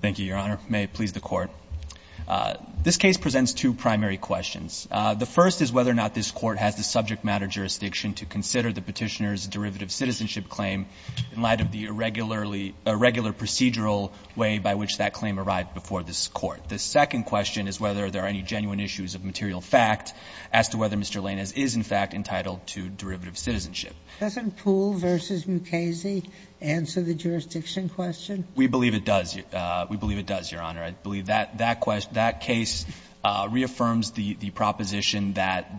Thank you, Your Honor. May it please the Court. This case presents two primary questions. The first is whether or not this Court has the subject matter jurisdiction to consider the Petitioner's derivative citizenship claim in light of the irregular procedural way by which that claim arrived before this Court. The second question is whether there are any genuine issues of material fact as to whether Mr. Lainez is, in fact, entitled to derivative citizenship. Sotomayor Doesn't Poole v. Mukasey answer the jurisdiction question? Lainez We believe it does, Your Honor. I believe that case reaffirms the proposition that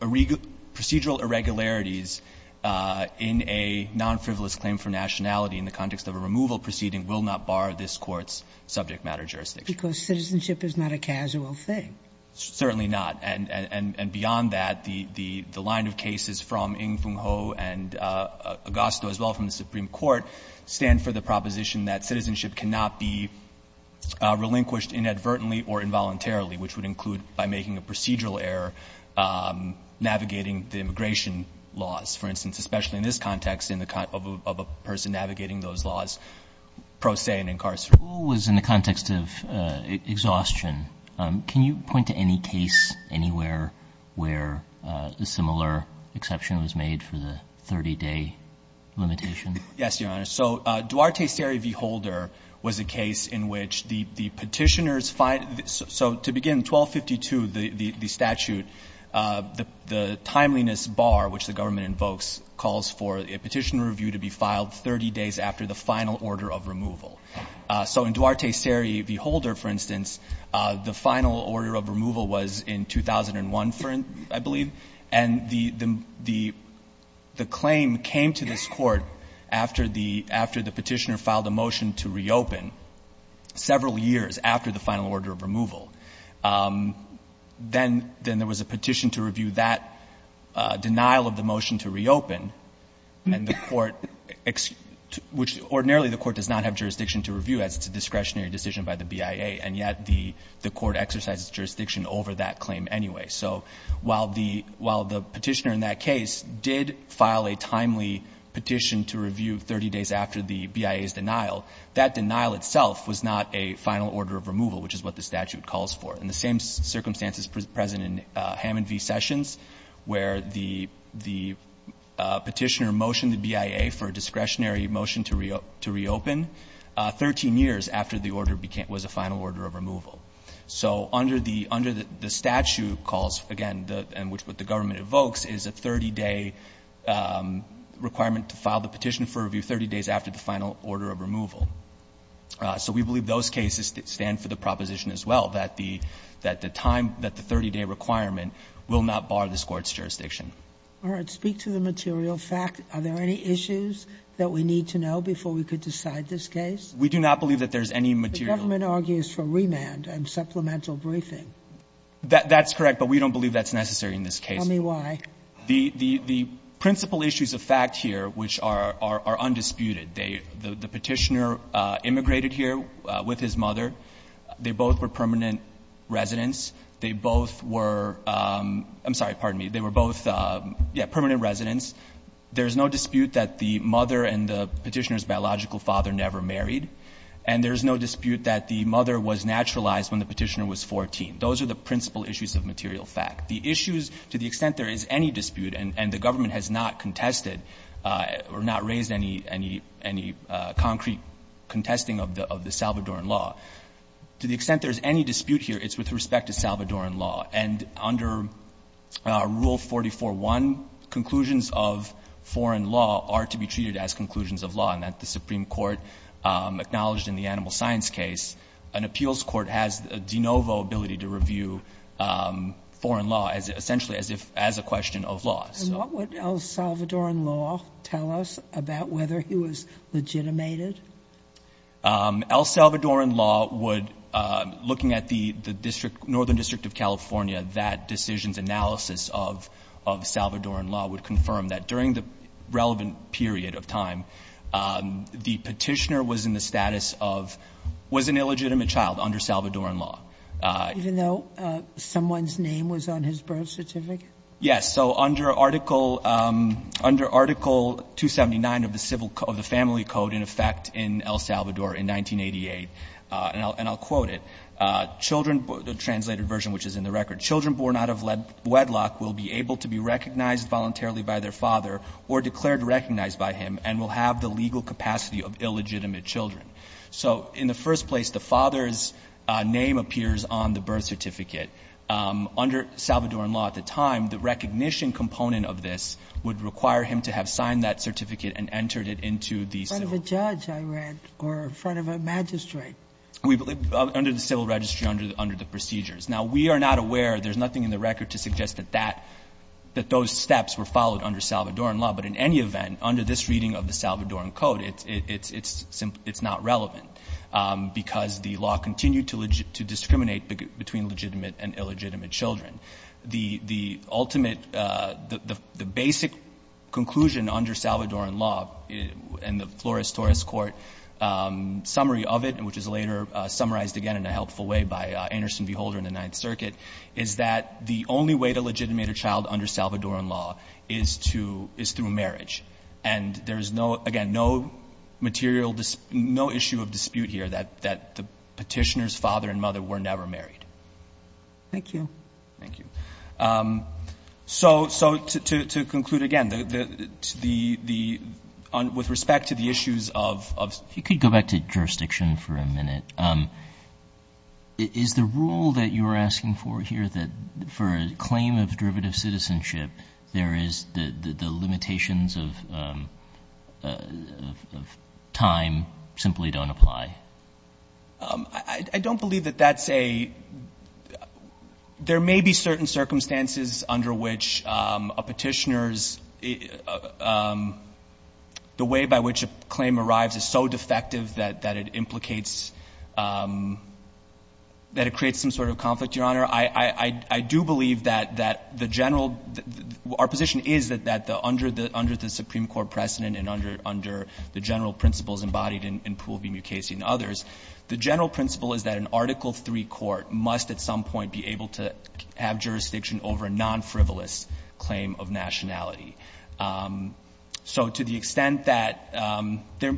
procedural irregularities in a nonfrivolous claim for nationality in the context of a removal proceeding will not bar this Court's subject matter jurisdiction. Sotomayor Because citizenship is not a casual thing. Lainez Certainly not. And beyond that, the line of cases from Ng Fung Ho and Agosto, as well from the Supreme Court, stand for the proposition that citizenship cannot be relinquished inadvertently or involuntarily, which would include by making a procedural error navigating the immigration laws, for instance, especially in this context of a person navigating those laws pro se in incarceration. Roberts Who was in the context of exhaustion. Can you point to any case anywhere where a similar exception was made for the 30-day limitation? Lainez Yes, Your Honor. So Duarte-Seri v. Holder was a case in which the Petitioner's find so to begin 1252, the statute, the timeliness bar, which the government invokes, calls for a Petitioner review to be filed 30 days after the final order of removal. So in Duarte-Seri v. Holder, for instance, the final order of removal was in 2001, I believe, and the claim came to this Court after the Petitioner filed a motion to reopen several years after the final order of removal. Then there was a petition to review that denial of the motion to reopen, and the Court, which ordinarily the Court does not have jurisdiction to review as it's a discretionary decision by the BIA, and yet the Court exercises jurisdiction over that claim anyway. So while the Petitioner in that case did file a timely petition to review 30 days after the BIA's denial, that denial itself was not a final order of removal, which is what the statute calls for. In the same circumstances present in Hammond v. Sessions, where the Petitioner motioned the BIA for a discretionary motion to reopen 13 years after the order was a final order of removal. So under the statute calls, again, and which what the government evokes, is a 30-day requirement to file the petition for review 30 days after the final order of removal. So we believe those cases stand for the proposition as well, that the time, that the 30-day requirement will not bar this Court's jurisdiction. Sotomayor, speak to the material fact. Are there any issues that we need to know before we could decide this case? We do not believe that there's any material. The government argues for remand and supplemental briefing. That's correct, but we don't believe that's necessary in this case. Tell me why. The principal issues of fact here, which are undisputed, the Petitioner immigrated here with his mother. They both were permanent residents. They both were – I'm sorry, pardon me. They were both, yeah, permanent residents. There's no dispute that the mother and the Petitioner's biological father never married, and there's no dispute that the mother was naturalized when the Petitioner was 14. Those are the principal issues of material fact. The issues, to the extent there is any dispute, and the government has not contested or not raised any concrete contesting of the Salvadoran law, to the extent there is any dispute here, it's with respect to Salvadoran law. And under Rule 44.1, conclusions of foreign law are to be treated as conclusions of law, and that the Supreme Court acknowledged in the animal science case, an appeals court has a de novo ability to review foreign law, essentially as a question of law. And what would El Salvadoran law tell us about whether he was legitimated? El Salvadoran law would, looking at the district, Northern District of California, that decision's of Salvadoran law would confirm that during the relevant period of time, the Petitioner was in the status of, was an illegitimate child under Salvadoran law. Even though someone's name was on his birth certificate? Yes. So under Article 279 of the Civil Code, the Family Code, in effect, in El Salvador in 1988, and I'll quote it, children, the translated version which is in the record, children born out of wedlock will be able to be recognized voluntarily by their father, or declared recognized by him, and will have the legal capacity of illegitimate children. So in the first place, the father's name appears on the birth certificate. Under Salvadoran law at the time, the recognition component of this would require him to have signed that certificate and entered it into the civil. In front of a judge, I read, or in front of a magistrate. We, under the civil registry, under the procedures. Now, we are not aware, there's nothing in the record to suggest that that, that those steps were followed under Salvadoran law. But in any event, under this reading of the Salvadoran Code, it's, it's, it's, it's not relevant because the law continued to legitimate, to discriminate between legitimate and illegitimate children. The, the ultimate, the, the basic conclusion under Salvadoran law and the Flores-Torres Court summary of it, and which is later summarized again in a helpful way by Anderson V. Holder in the Ninth Circuit, is that the only way to legitimate a child under Salvadoran law is to, is through marriage. And there is no, again, no material, no issue of dispute here that, that the petitioner's father and mother were never married. Thank you. Thank you. So, so to, to, to conclude again, the, the, the, the, on, with respect to the issues of, of... The rule that you were asking for here, that for a claim of derivative citizenship, there is the, the, the limitations of, of, of time simply don't apply. I don't believe that that's a... There may be certain circumstances under which a petitioner's, the way by which a claim arrives is so defective that, that it implicates, that it creates some sort of conflict, Your Honor. I, I, I do believe that, that the general, our position is that, that the, under the, under the Supreme Court precedent and under, under the general principles embodied in Poole v. Mukasey and others, the general principle is that an Article III court must at some point be able to have jurisdiction over a non-frivolous claim of nationality. So to the extent that there,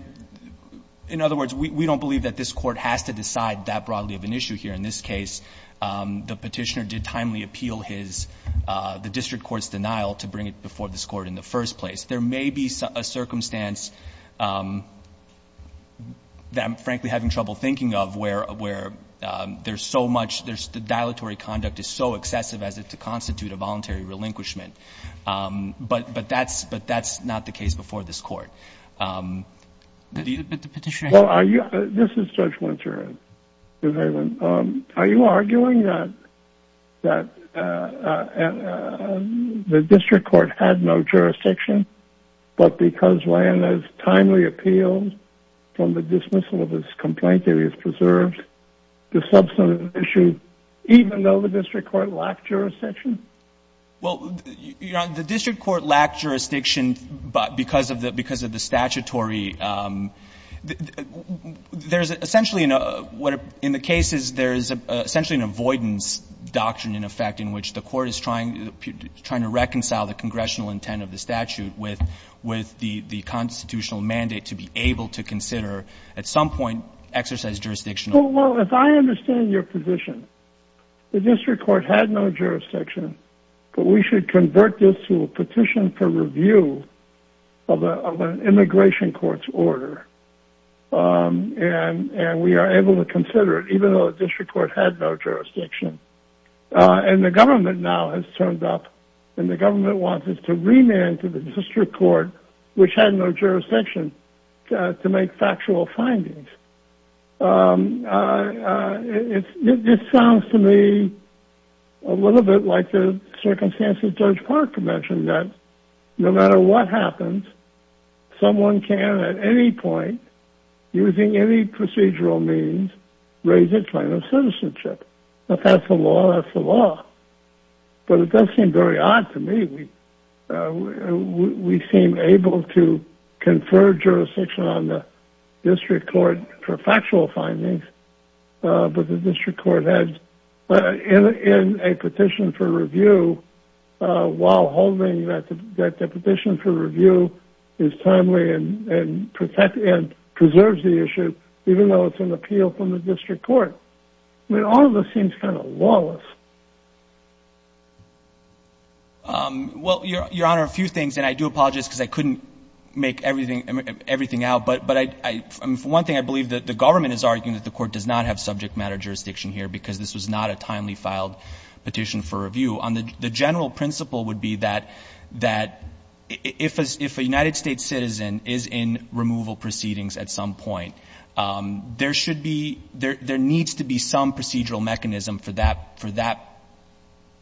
in other words, we, we don't believe that this court has to decide that broadly of an issue here. In this case, the petitioner did timely appeal his, the district court's denial to bring it before this court in the first place. There may be a circumstance that I'm frankly having trouble thinking of where, where there's so much, there's, the dilatory conduct is so excessive as it to constitute a voluntary relinquishment. But, but that's, but that's not the case before this court. The petitioner. Well, are you, this is Judge Winter, are you arguing that, that the district court had no jurisdiction, but because Ryan has timely appealed from the dismissal of his complaint, there is preserved the subsequent issue, even though the district court lacked jurisdiction? Well, the district court lacked jurisdiction because of the, because of the statutory there's essentially, in the cases, there's essentially an avoidance doctrine, in effect, in which the court is trying, trying to reconcile the congressional intent of the statute with, with the, the constitutional mandate to be able to consider at some point, exercise jurisdiction. Oh, well, if I understand your position, the district court had no jurisdiction, but we should convert this to a petition for review of an immigration court's order. And we are able to consider it, even though the district court had no jurisdiction. And the government now has turned up and the government wants us to remand to the district court, which had no jurisdiction to make factual findings. Um, uh, it's, it sounds to me a little bit like the circumstances judge Parker mentioned that no matter what happens, someone can, at any point using any procedural means, raise a claim of citizenship. If that's the law, that's the law, but it does seem very odd to me. Uh, we, we, we seem able to confer jurisdiction on the district court for factual findings, uh, but the district court has, uh, in, in a petition for review, uh, while holding that, that the petition for review is timely and, and protect and preserves the issue, even though it's an appeal from the district court. I mean, all of us seems kind of Wallace. Um, well, your, your honor, a few things, and I do apologize because I couldn't make everything, everything out, but, but I, I, for one thing, I believe that the government is arguing that the court does not have subject matter jurisdiction here because this was not a timely filed petition for review on the, the general principle would be that, that if, as if a United States citizen is in removal proceedings at some point, um, there should be, there, there needs to be some procedural mechanism for that, for that,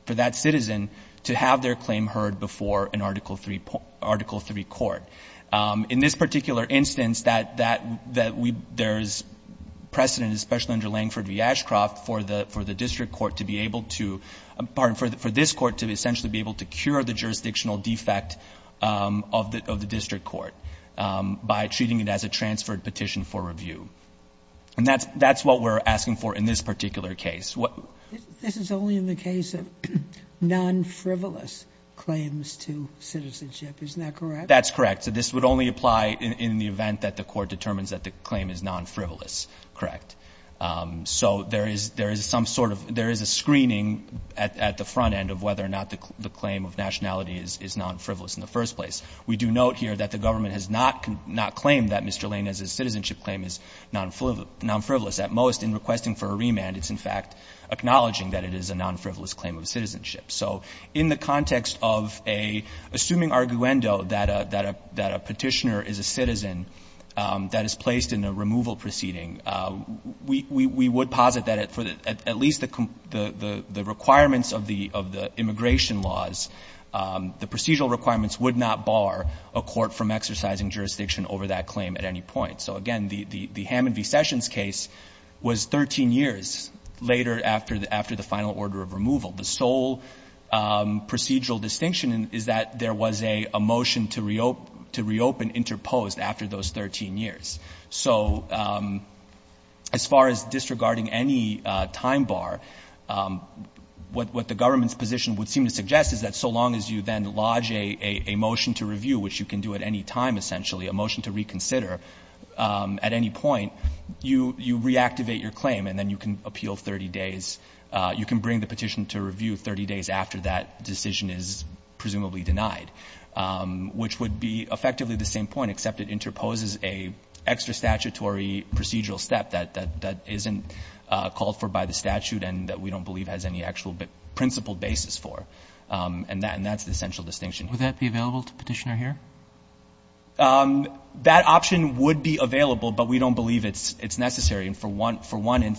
for that citizen to have their claim heard before an article three, article three court. Um, in this particular instance that, that, that we, there's precedent, especially under Langford v. Ashcroft for the, for the district court to be able to, pardon, for, for this court to essentially be able to cure the jurisdictional defect, um, of the, of the district court, um, by treating it as a transferred petition for review. And that's, that's what we're asking for in this particular case. What? This is only in the case of non-frivolous claims to citizenship, isn't that correct? That's correct. So this would only apply in, in the event that the court determines that the claim is non-frivolous, correct? Um, so there is, there is some sort of, there is a screening at, at the front end of whether or not the, the claim of nationality is, is non-frivolous in the first place. We do note here that the government has not, not claimed that Mr. Lanez's citizenship claim is non-frivolous. At most, in requesting for a remand, it's in fact acknowledging that it is a non-frivolous claim of citizenship. So in the context of a, assuming arguendo that a, that a, that a petitioner is a citizen, um, that is placed in a removal proceeding, uh, we, we, we would posit that for the, at least the, the, the requirements of the, of the immigration laws, um, the procedural requirements would not bar a court from exercising jurisdiction over that claim at any point. So again, the, the, the Hammond v. Sessions case was 13 years later after the, after the final order of removal. The sole, um, procedural distinction is that there was a, a motion to reo, to reopen interposed after those 13 years. So, um, as far as disregarding any, uh, time bar, um, what, what the government's position would seem to suggest is that so long as you then lodge a, a, a motion to review, which you can do at any time, essentially, a motion to reconsider, um, at any point, you, you reactivate your claim and then you can appeal 30 days. Uh, you can bring the petition to review 30 days after that decision is presumably denied, um, which would be effectively the same point, except it interposes a extra statutory procedural step that, that, that isn't, uh, called for by the statute and that we don't believe has any actual principle basis for. Um, and that, and that's the essential distinction. Would that be available to the petitioner here? Um, that option would be available, but we don't believe it's, it's necessary. And for one, for one,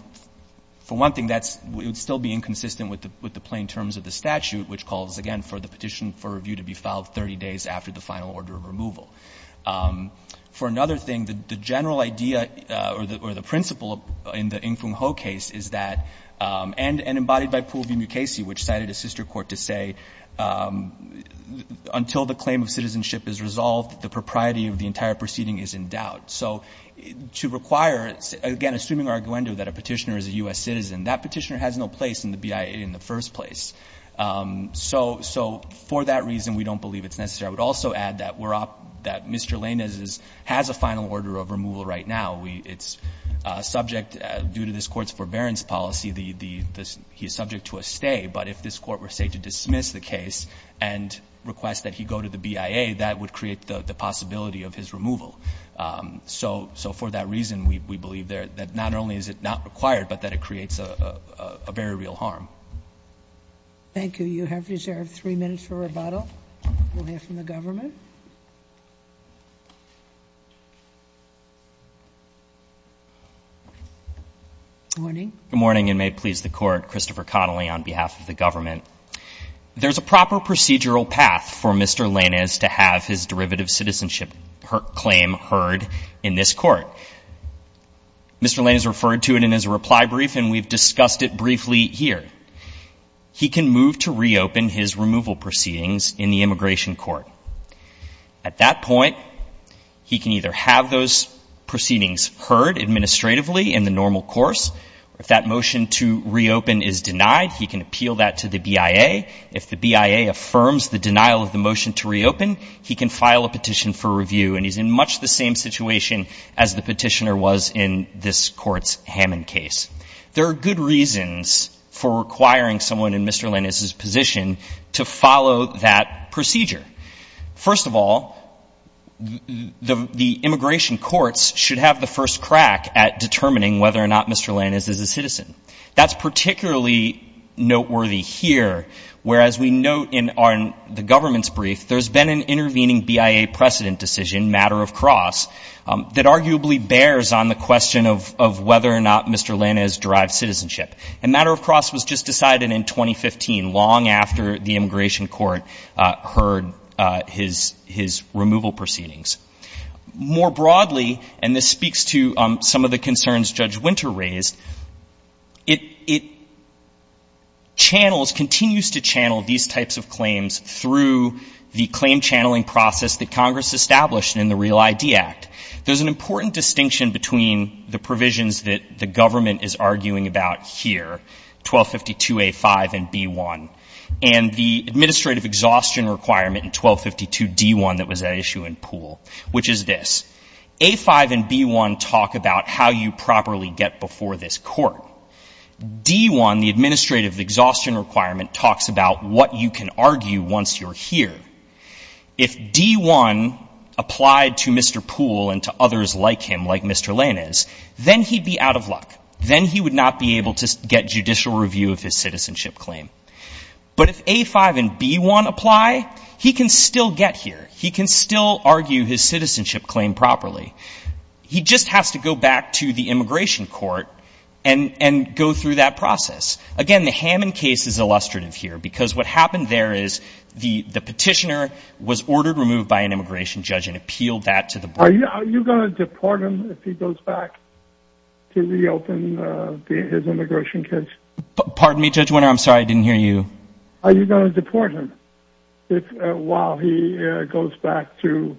for one thing, that's, it would still be inconsistent with the, with the plain terms of the statute, which calls again for the petition for review to be filed 30 days after the final order of removal. Um, for another thing, the, the general idea, uh, or the, or the principle in the Ng Fung Ho case is that, um, and, and embodied by Poole v. Mukasey, which cited a sister court to say, um, until the claim of citizenship is revoked, is resolved, the propriety of the entire proceeding is in doubt. So to require, again, assuming our aguendo that a petitioner is a U.S. citizen, that petitioner has no place in the BIA in the first place. Um, so, so for that reason, we don't believe it's necessary. I would also add that we're up, that Mr. Lainez's has a final order of removal right now. We, it's a subject due to this court's forbearance policy, the, the, the, he's subject to a stay, but if this court were say to dismiss the case and request that he go to the BIA, that would create the possibility of his removal. Um, so, so for that reason, we, we believe there that not only is it not required, but that it creates a, a, a very real harm. Thank you. You have reserved three minutes for rebuttal. We'll hear from the government. Morning. Good morning and may it please the court. Christopher Connelly on behalf of the government. There's a proper procedural path for Mr. Lanez to have his derivative citizenship claim heard in this court. Mr. Lanez referred to it in his reply brief, and we've discussed it briefly here. He can move to reopen his removal proceedings in the immigration court. At that point, he can either have those proceedings heard administratively in the normal course. If that motion to reopen is denied, he can appeal that to the BIA. If the BIA affirms the denial of the motion to reopen, he can file a petition for review. And he's in much the same situation as the petitioner was in this court's Hammond case. There are good reasons for requiring someone in Mr. Lanez's position to follow that procedure. First of all, the, the immigration courts should have the first crack at determining whether or not Mr. Lanez is a citizen. That's particularly noteworthy here, whereas we note in our, in the government's brief, there's been an intervening BIA precedent decision, matter of cross, that arguably bears on the question of, of whether or not Mr. Lanez derived citizenship. And matter of cross was just decided in 2015, long after the immigration court heard his, his removal proceedings. More broadly, and this speaks to some of the concerns Judge Winter raised, it, it channels, continues to channel these types of claims through the claim channeling process that Congress established in the Real ID Act. There's an important distinction between the provisions that the government is arguing about here, 1252A5 and B1, and the administrative exhaustion requirement which is this, A5 and B1 talk about how you properly get before this court. D1, the administrative exhaustion requirement, talks about what you can argue once you're here. If D1 applied to Mr. Poole and to others like him, like Mr. Lanez, then he'd be out of luck. Then he would not be able to get judicial review of his citizenship claim. But if A5 and B1 apply, he can still get here. He can still argue his citizenship claim properly. He just has to go back to the immigration court and, and go through that process. Again, the Hammond case is illustrative here because what happened there is the, the petitioner was ordered removed by an immigration judge and appealed that to the board. Are you, are you going to deport him if he goes back to reopen his immigration case? Pardon me, Judge Winter. I'm sorry. I didn't hear you. Are you going to deport him while he goes back to,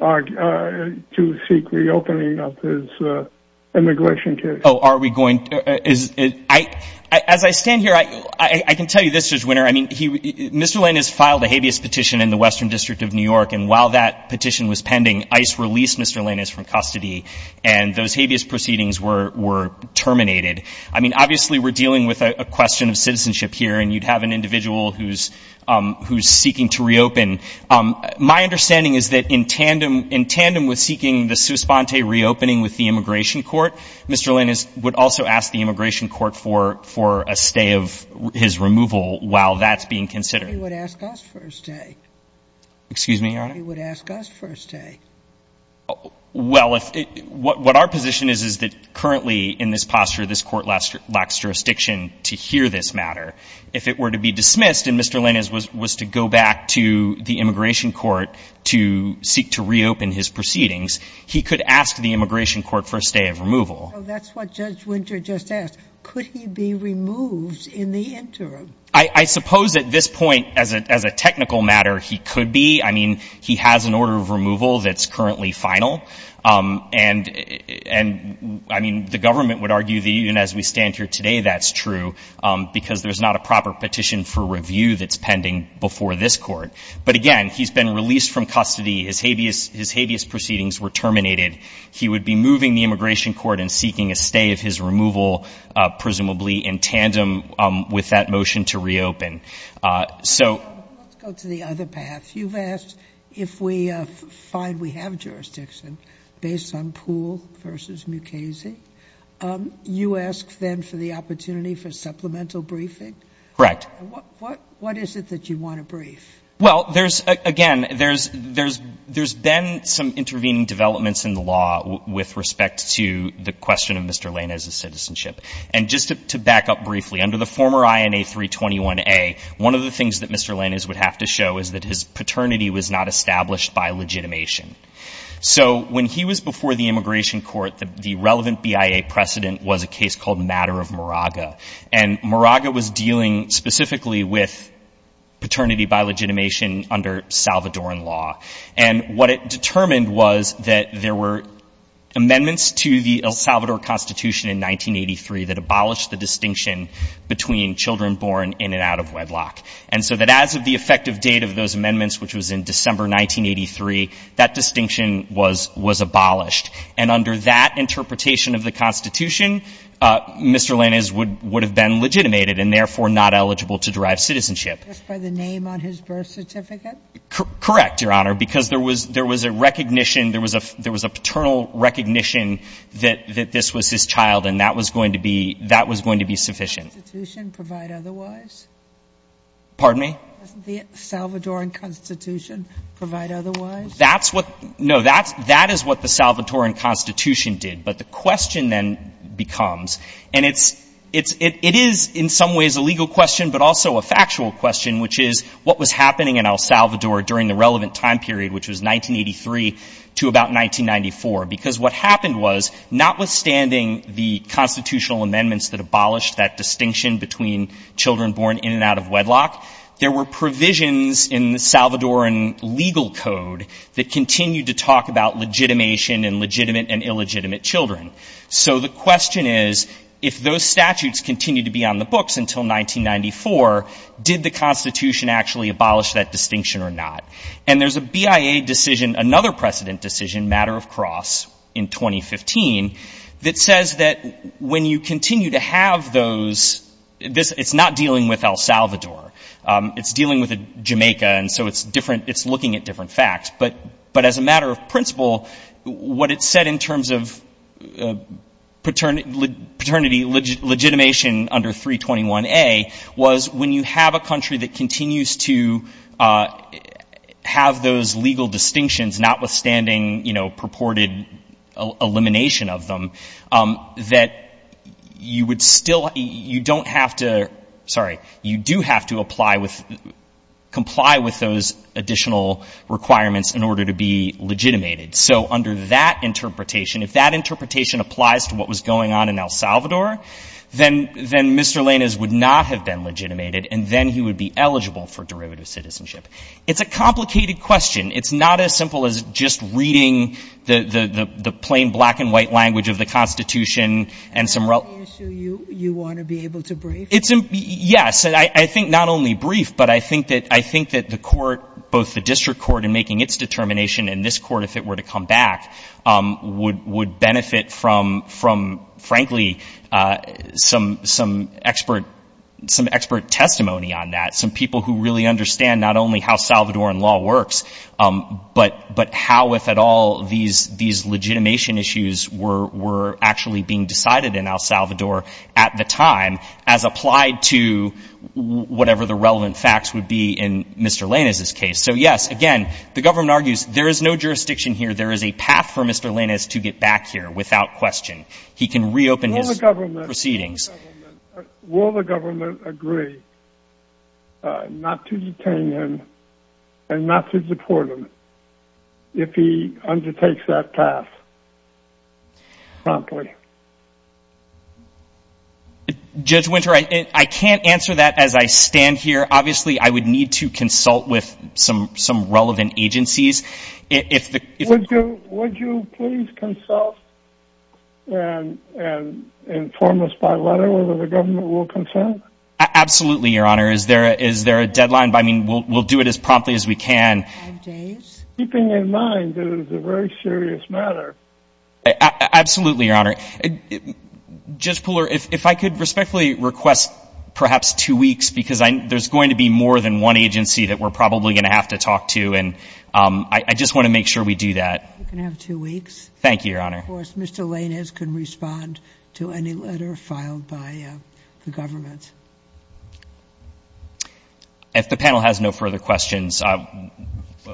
to seek reopening of his immigration case? Oh, are we going, is it, I, as I stand here, I, I can tell you this, Judge Winter. I mean, he, Mr. Lanez filed a habeas petition in the Western District of New York. And while that petition was pending, ICE released Mr. Lanez from custody and those habeas proceedings were, were terminated. I mean, obviously we're dealing with a question of citizenship here and you'd have an individual who's, who's seeking to reopen. My understanding is that in tandem, in tandem with seeking the Suspante reopening with the immigration court, Mr. Lanez would also ask the immigration court for, for a stay of his removal while that's being considered. He would ask us for a stay. Excuse me, Your Honor? He would ask us for a stay. Well, if, what, what our position is, is that currently in this posture, this court lacks jurisdiction to hear this matter. If it were to be dismissed and Mr. Lanez was, was to go back to the immigration court to seek to reopen his proceedings, he could ask the immigration court for a stay of removal. So that's what Judge Winter just asked. Could he be removed in the interim? I, I suppose at this point, as a, as a technical matter, he could be. I mean, he has an order of removal that's currently final. And, and I mean, the government would argue that even as we stand here today, that's true because there's not a proper petition for review that's pending before this court. But again, he's been released from custody. His habeas, his habeas proceedings were terminated. He would be moving the immigration court and seeking a stay of his removal, presumably in tandem with that motion to reopen. So. Let's go to the other path. You've asked if we find we have jurisdiction based on Poole versus Mukasey. You ask then for the opportunity for supplemental briefing. Correct. What, what, what is it that you want to brief? Well, there's again, there's, there's, there's been some intervening developments in the law with respect to the question of Mr. Lanez's citizenship. And just to back up briefly under the former INA 321A, one of the things that Mr. Lanez would have to show is that his paternity was not established by legitimation. So when he was before the immigration court, the, the relevant BIA precedent was a case called matter of Moraga and Moraga was dealing specifically with paternity by legitimation under Salvadoran law. And what it determined was that there were amendments to the El Salvador constitution in 1983 that abolished the distinction between children born in and out of wedlock. And so that as of the effective date of those amendments, which was in December 1983, that distinction was, was abolished. And under that interpretation of the constitution, Mr. Lanez would, would have been legitimated and therefore not eligible to derive citizenship. Just by the name on his birth certificate? Correct, Your Honor. Because there was, there was a recognition. There was a, there was a paternal recognition that, that this was his child and that was going to be, that was going to be sufficient. Doesn't the constitution provide otherwise? Pardon me? Doesn't the Salvadoran constitution provide otherwise? That's what, no, that's, that is what the Salvadoran constitution did. But the question then becomes, and it's, it's, it, it is in some ways a legal question, but also a factual question, which is what was happening in El Salvador during the relevant time period, which was 1983 to about 1994. Because what happened was, notwithstanding the constitutional amendments that abolished that distinction between children born in and out of wedlock, there were provisions in the Salvadoran legal code that continued to talk about legitimation and legitimate and illegitimate children. So the question is, if those statutes continue to be on the books until 1994, did the constitution actually abolish that distinction or not? And there's a BIA decision, another precedent decision, matter of cross in 2015, that says that when you continue to have those, this, it's not dealing with El Salvador, it's dealing with Jamaica. And so it's different, it's looking at different facts, but, but as a matter of principle, what it said in terms of paternity, paternity legitimation under 321A was when you have a country that continues to have those legal distinctions, notwithstanding, you know, purported elimination of them, that you would still, you don't have to, sorry, you do have to apply with, comply with those additional requirements in order to be legitimated. So under that interpretation, if that interpretation applies to what was going on in El Salvador, then, then Mr. Lenas would not have been legitimated and then he would be eligible for derivative citizenship. It's a complicated question. It's not as simple as just reading the, the, the, the plain black and white language of the constitution and some. You, you want to be able to brief? It's, yes. And I think not only brief, but I think that, I think that the court, both the district court in making its determination and this court, if it were to come back, um, would, would benefit from, from frankly, uh, some, some expert, some expert testimony on that. Some people who really understand not only how Salvadoran law works. Um, but, but how, if at all, these, these legitimation issues were, were actually being decided in El Salvador at the time as applied to whatever the relevant facts would be in Mr. Lenas' case. So yes, again, the government argues there is no jurisdiction here. There is a path for Mr. Lenas to get back here without question. He can reopen his government proceedings. Will the government agree not to detain him and not to deport him if he undertakes that path promptly? Judge Winter, I can't answer that as I stand here, obviously I would need to consult with some, some relevant agencies. If, if, would you, would you please consult and inform us by letter whether the government will consent? Absolutely. Your honor. Is there, is there a deadline? I mean, we'll, we'll do it as promptly as we can. Keeping in mind that it is a very serious matter. Absolutely. Your honor, Judge Pooler, if, if I could respectfully request perhaps two weeks, because there's going to be more than one agency that we're probably going to have to talk to. And, um, I just want to make sure we do that. You can have two weeks. Thank you, your honor. Of course, Mr. Lenas can respond to any letter filed by the government. If the panel has no further questions, uh,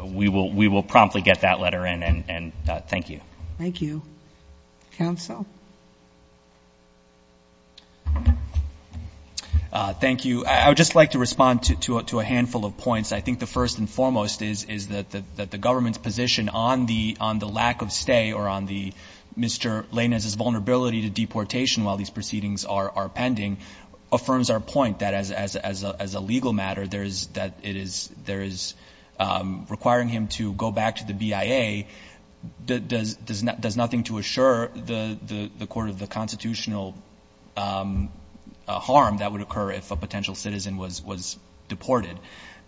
we will, we will promptly get that letter in and, and, uh, thank you. Thank you. Counsel. Uh, thank you. I would just like to respond to, to, to a handful of points. I think the first and foremost is, is that the, that the government's position on the, on the lack of stay or on the Mr. Lenas's vulnerability to deportation while these proceedings are, are pending affirms our point that as, as, as, as a legal matter, there is that it is, there is, um, requiring him to go back to the BIA does, does, does not, does nothing to assure the, the, the court of the constitutional, um, uh, harm that would occur if a potential citizen was, was deported.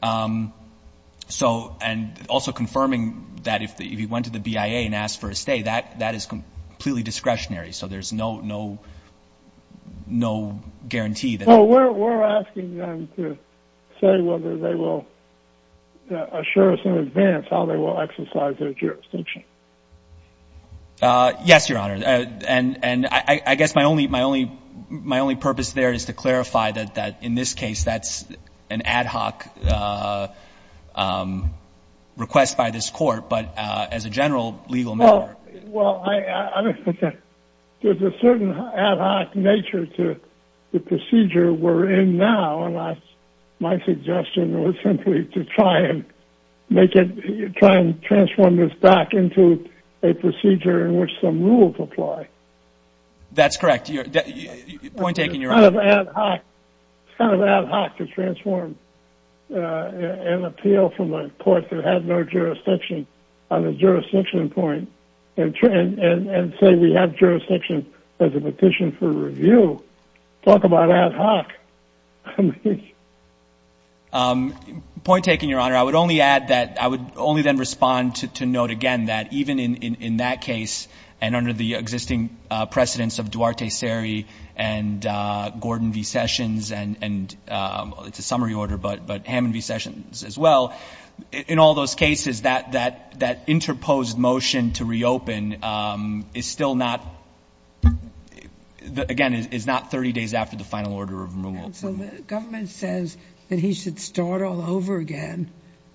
Um, so, and also confirming that if the, if he went to the BIA and asked for a stay, that, that is completely discretionary. So there's no, no, no guarantee that. Oh, we're, we're asking them to say whether they will assure us in advance how they will exercise their jurisdiction. Uh, yes, your honor. Uh, and, and I, I guess my only, my only, my only purpose there is to clarify that, that in this case, that's an ad hoc, uh, um, request by this court, but, uh, as a general legal matter. Well, I, I don't think that there's a certain ad hoc nature to the procedure we're in now, unless my suggestion was simply to try and make it, try and transform this back into a procedure in which some rules apply. That's correct. You're point taking you're out of ad hoc, kind of ad hoc to transform, uh, an appeal from a court that had no jurisdiction on the jurisdiction point. And, and, and say, we have jurisdiction as a petition for review. Talk about ad hoc. Um, point taken your honor. I would only add that I would only then respond to, to note again, that even in, in, in that case and under the existing, uh, precedents of Duarte Seri and, uh, Gordon V. Sessions and, and, um, it's a summary order, but, but Hammond V. Sessions as well. In all those cases that, that, that interposed motion to reopen, um, is still not, again, it's not 30 days after the final order of removal. And so the government says that he should start all over again,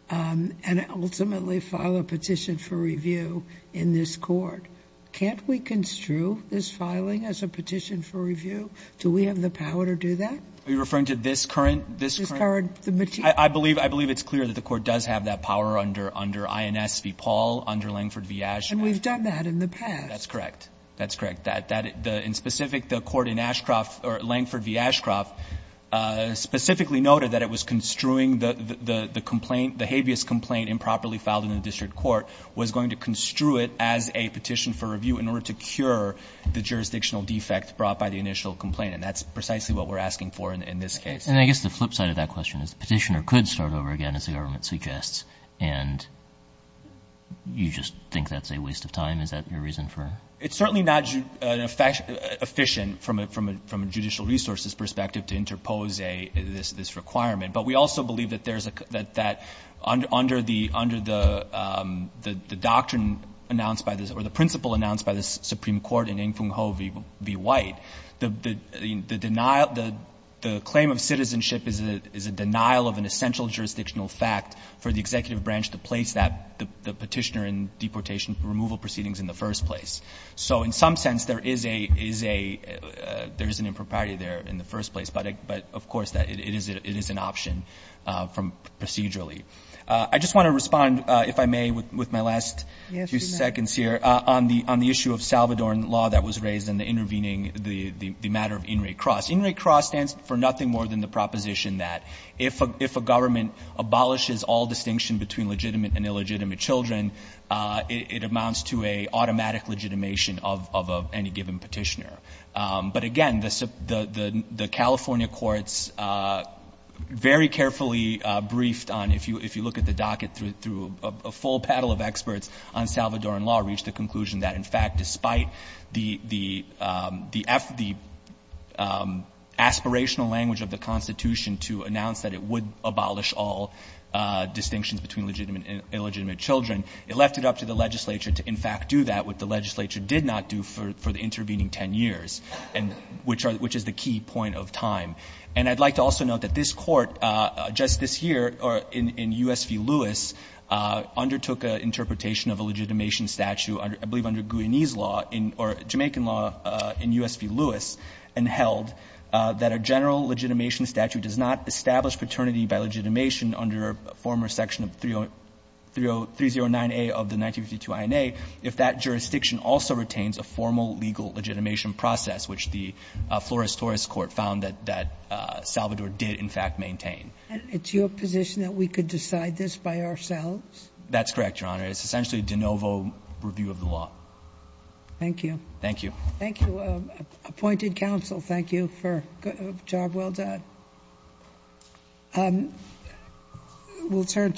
um, and ultimately file a petition for review in this court. Can't we construe this filing as a petition for review? Do we have the power to do that? Are you referring to this current, this current? I believe, I believe it's clear that the court does have that power under, under INS v. Paul, under Langford v. Ashcroft. And we've done that in the past. That's correct. That's correct. That, that, the, in specific, the court in Ashcroft or Langford v. Ashcroft, uh, specifically noted that it was construing the, the, the, the complaint, the habeas complaint improperly filed in the district court was going to construe it as a petition for review in order to cure the jurisdictional defect brought by the initial complaint. And that's precisely what we're asking for in this case. And I guess the flip side of that question is the petitioner could start over again as the government suggests. And you just think that's a waste of time. Is that your reason for it? It's certainly not efficient from a, from a, from a judicial resources perspective to interpose a, this, this requirement, but we also believe that there's a, that, that under, under the, under the, um, the, the doctrine announced by this or the principle announced by the Supreme Court in Ling-Fung Ho v. White, the, the, the denial, the, the claim of citizenship is a, is a denial of an essential jurisdictional fact for the executive branch to place that, the, the petitioner in deportation removal proceedings in the first place. So in some sense, there is a, is a, uh, there is an impropriety there in the first place. But, uh, but of course that it is, it is an option, uh, from procedurally. Uh, I just want to respond, uh, if I may, with, with my last few seconds here, uh, on the, on the issue of Salvadoran law that was raised in the intervening, the, the, the matter of in re cross, in re cross stands for nothing more than the proposition that if a, if a government abolishes all distinction between legitimate and illegitimate children, uh, it, it amounts to a automatic legitimation of, of, of any given petitioner. Um, but again, the, the, the, the California courts, uh, very carefully, uh, briefed on, if you, if you look at the docket through, through a full paddle of the conclusion that in fact, despite the, the, um, the F, the, um, aspirational language of the constitution to announce that it would abolish all, uh, distinctions between legitimate and illegitimate children, it left it up to the legislature to in fact, do that with the legislature did not do for, for the intervening 10 years and which are, which is the key point of time. And I'd like to also note that this court, uh, just this year or in, in USV Lewis, uh, undertook a interpretation of a legitimation statute under, I believe under Guyanese law in, or Jamaican law, uh, in USV Lewis and held, uh, that a general legitimation statute does not establish paternity by legitimation under a former section of 30, 30, 309A of the 1952 INA if that jurisdiction also retains a formal legal legitimation process, which the, uh, Flores-Torres court found that, that, uh, Salvador did in fact maintain. And it's your position that we could decide this by ourselves? That's correct, Your Honor. It's essentially de novo review of the law. Thank you. Thank you. Thank you. Uh, appointed counsel. Thank you for good job. Well done. Um, we'll turn.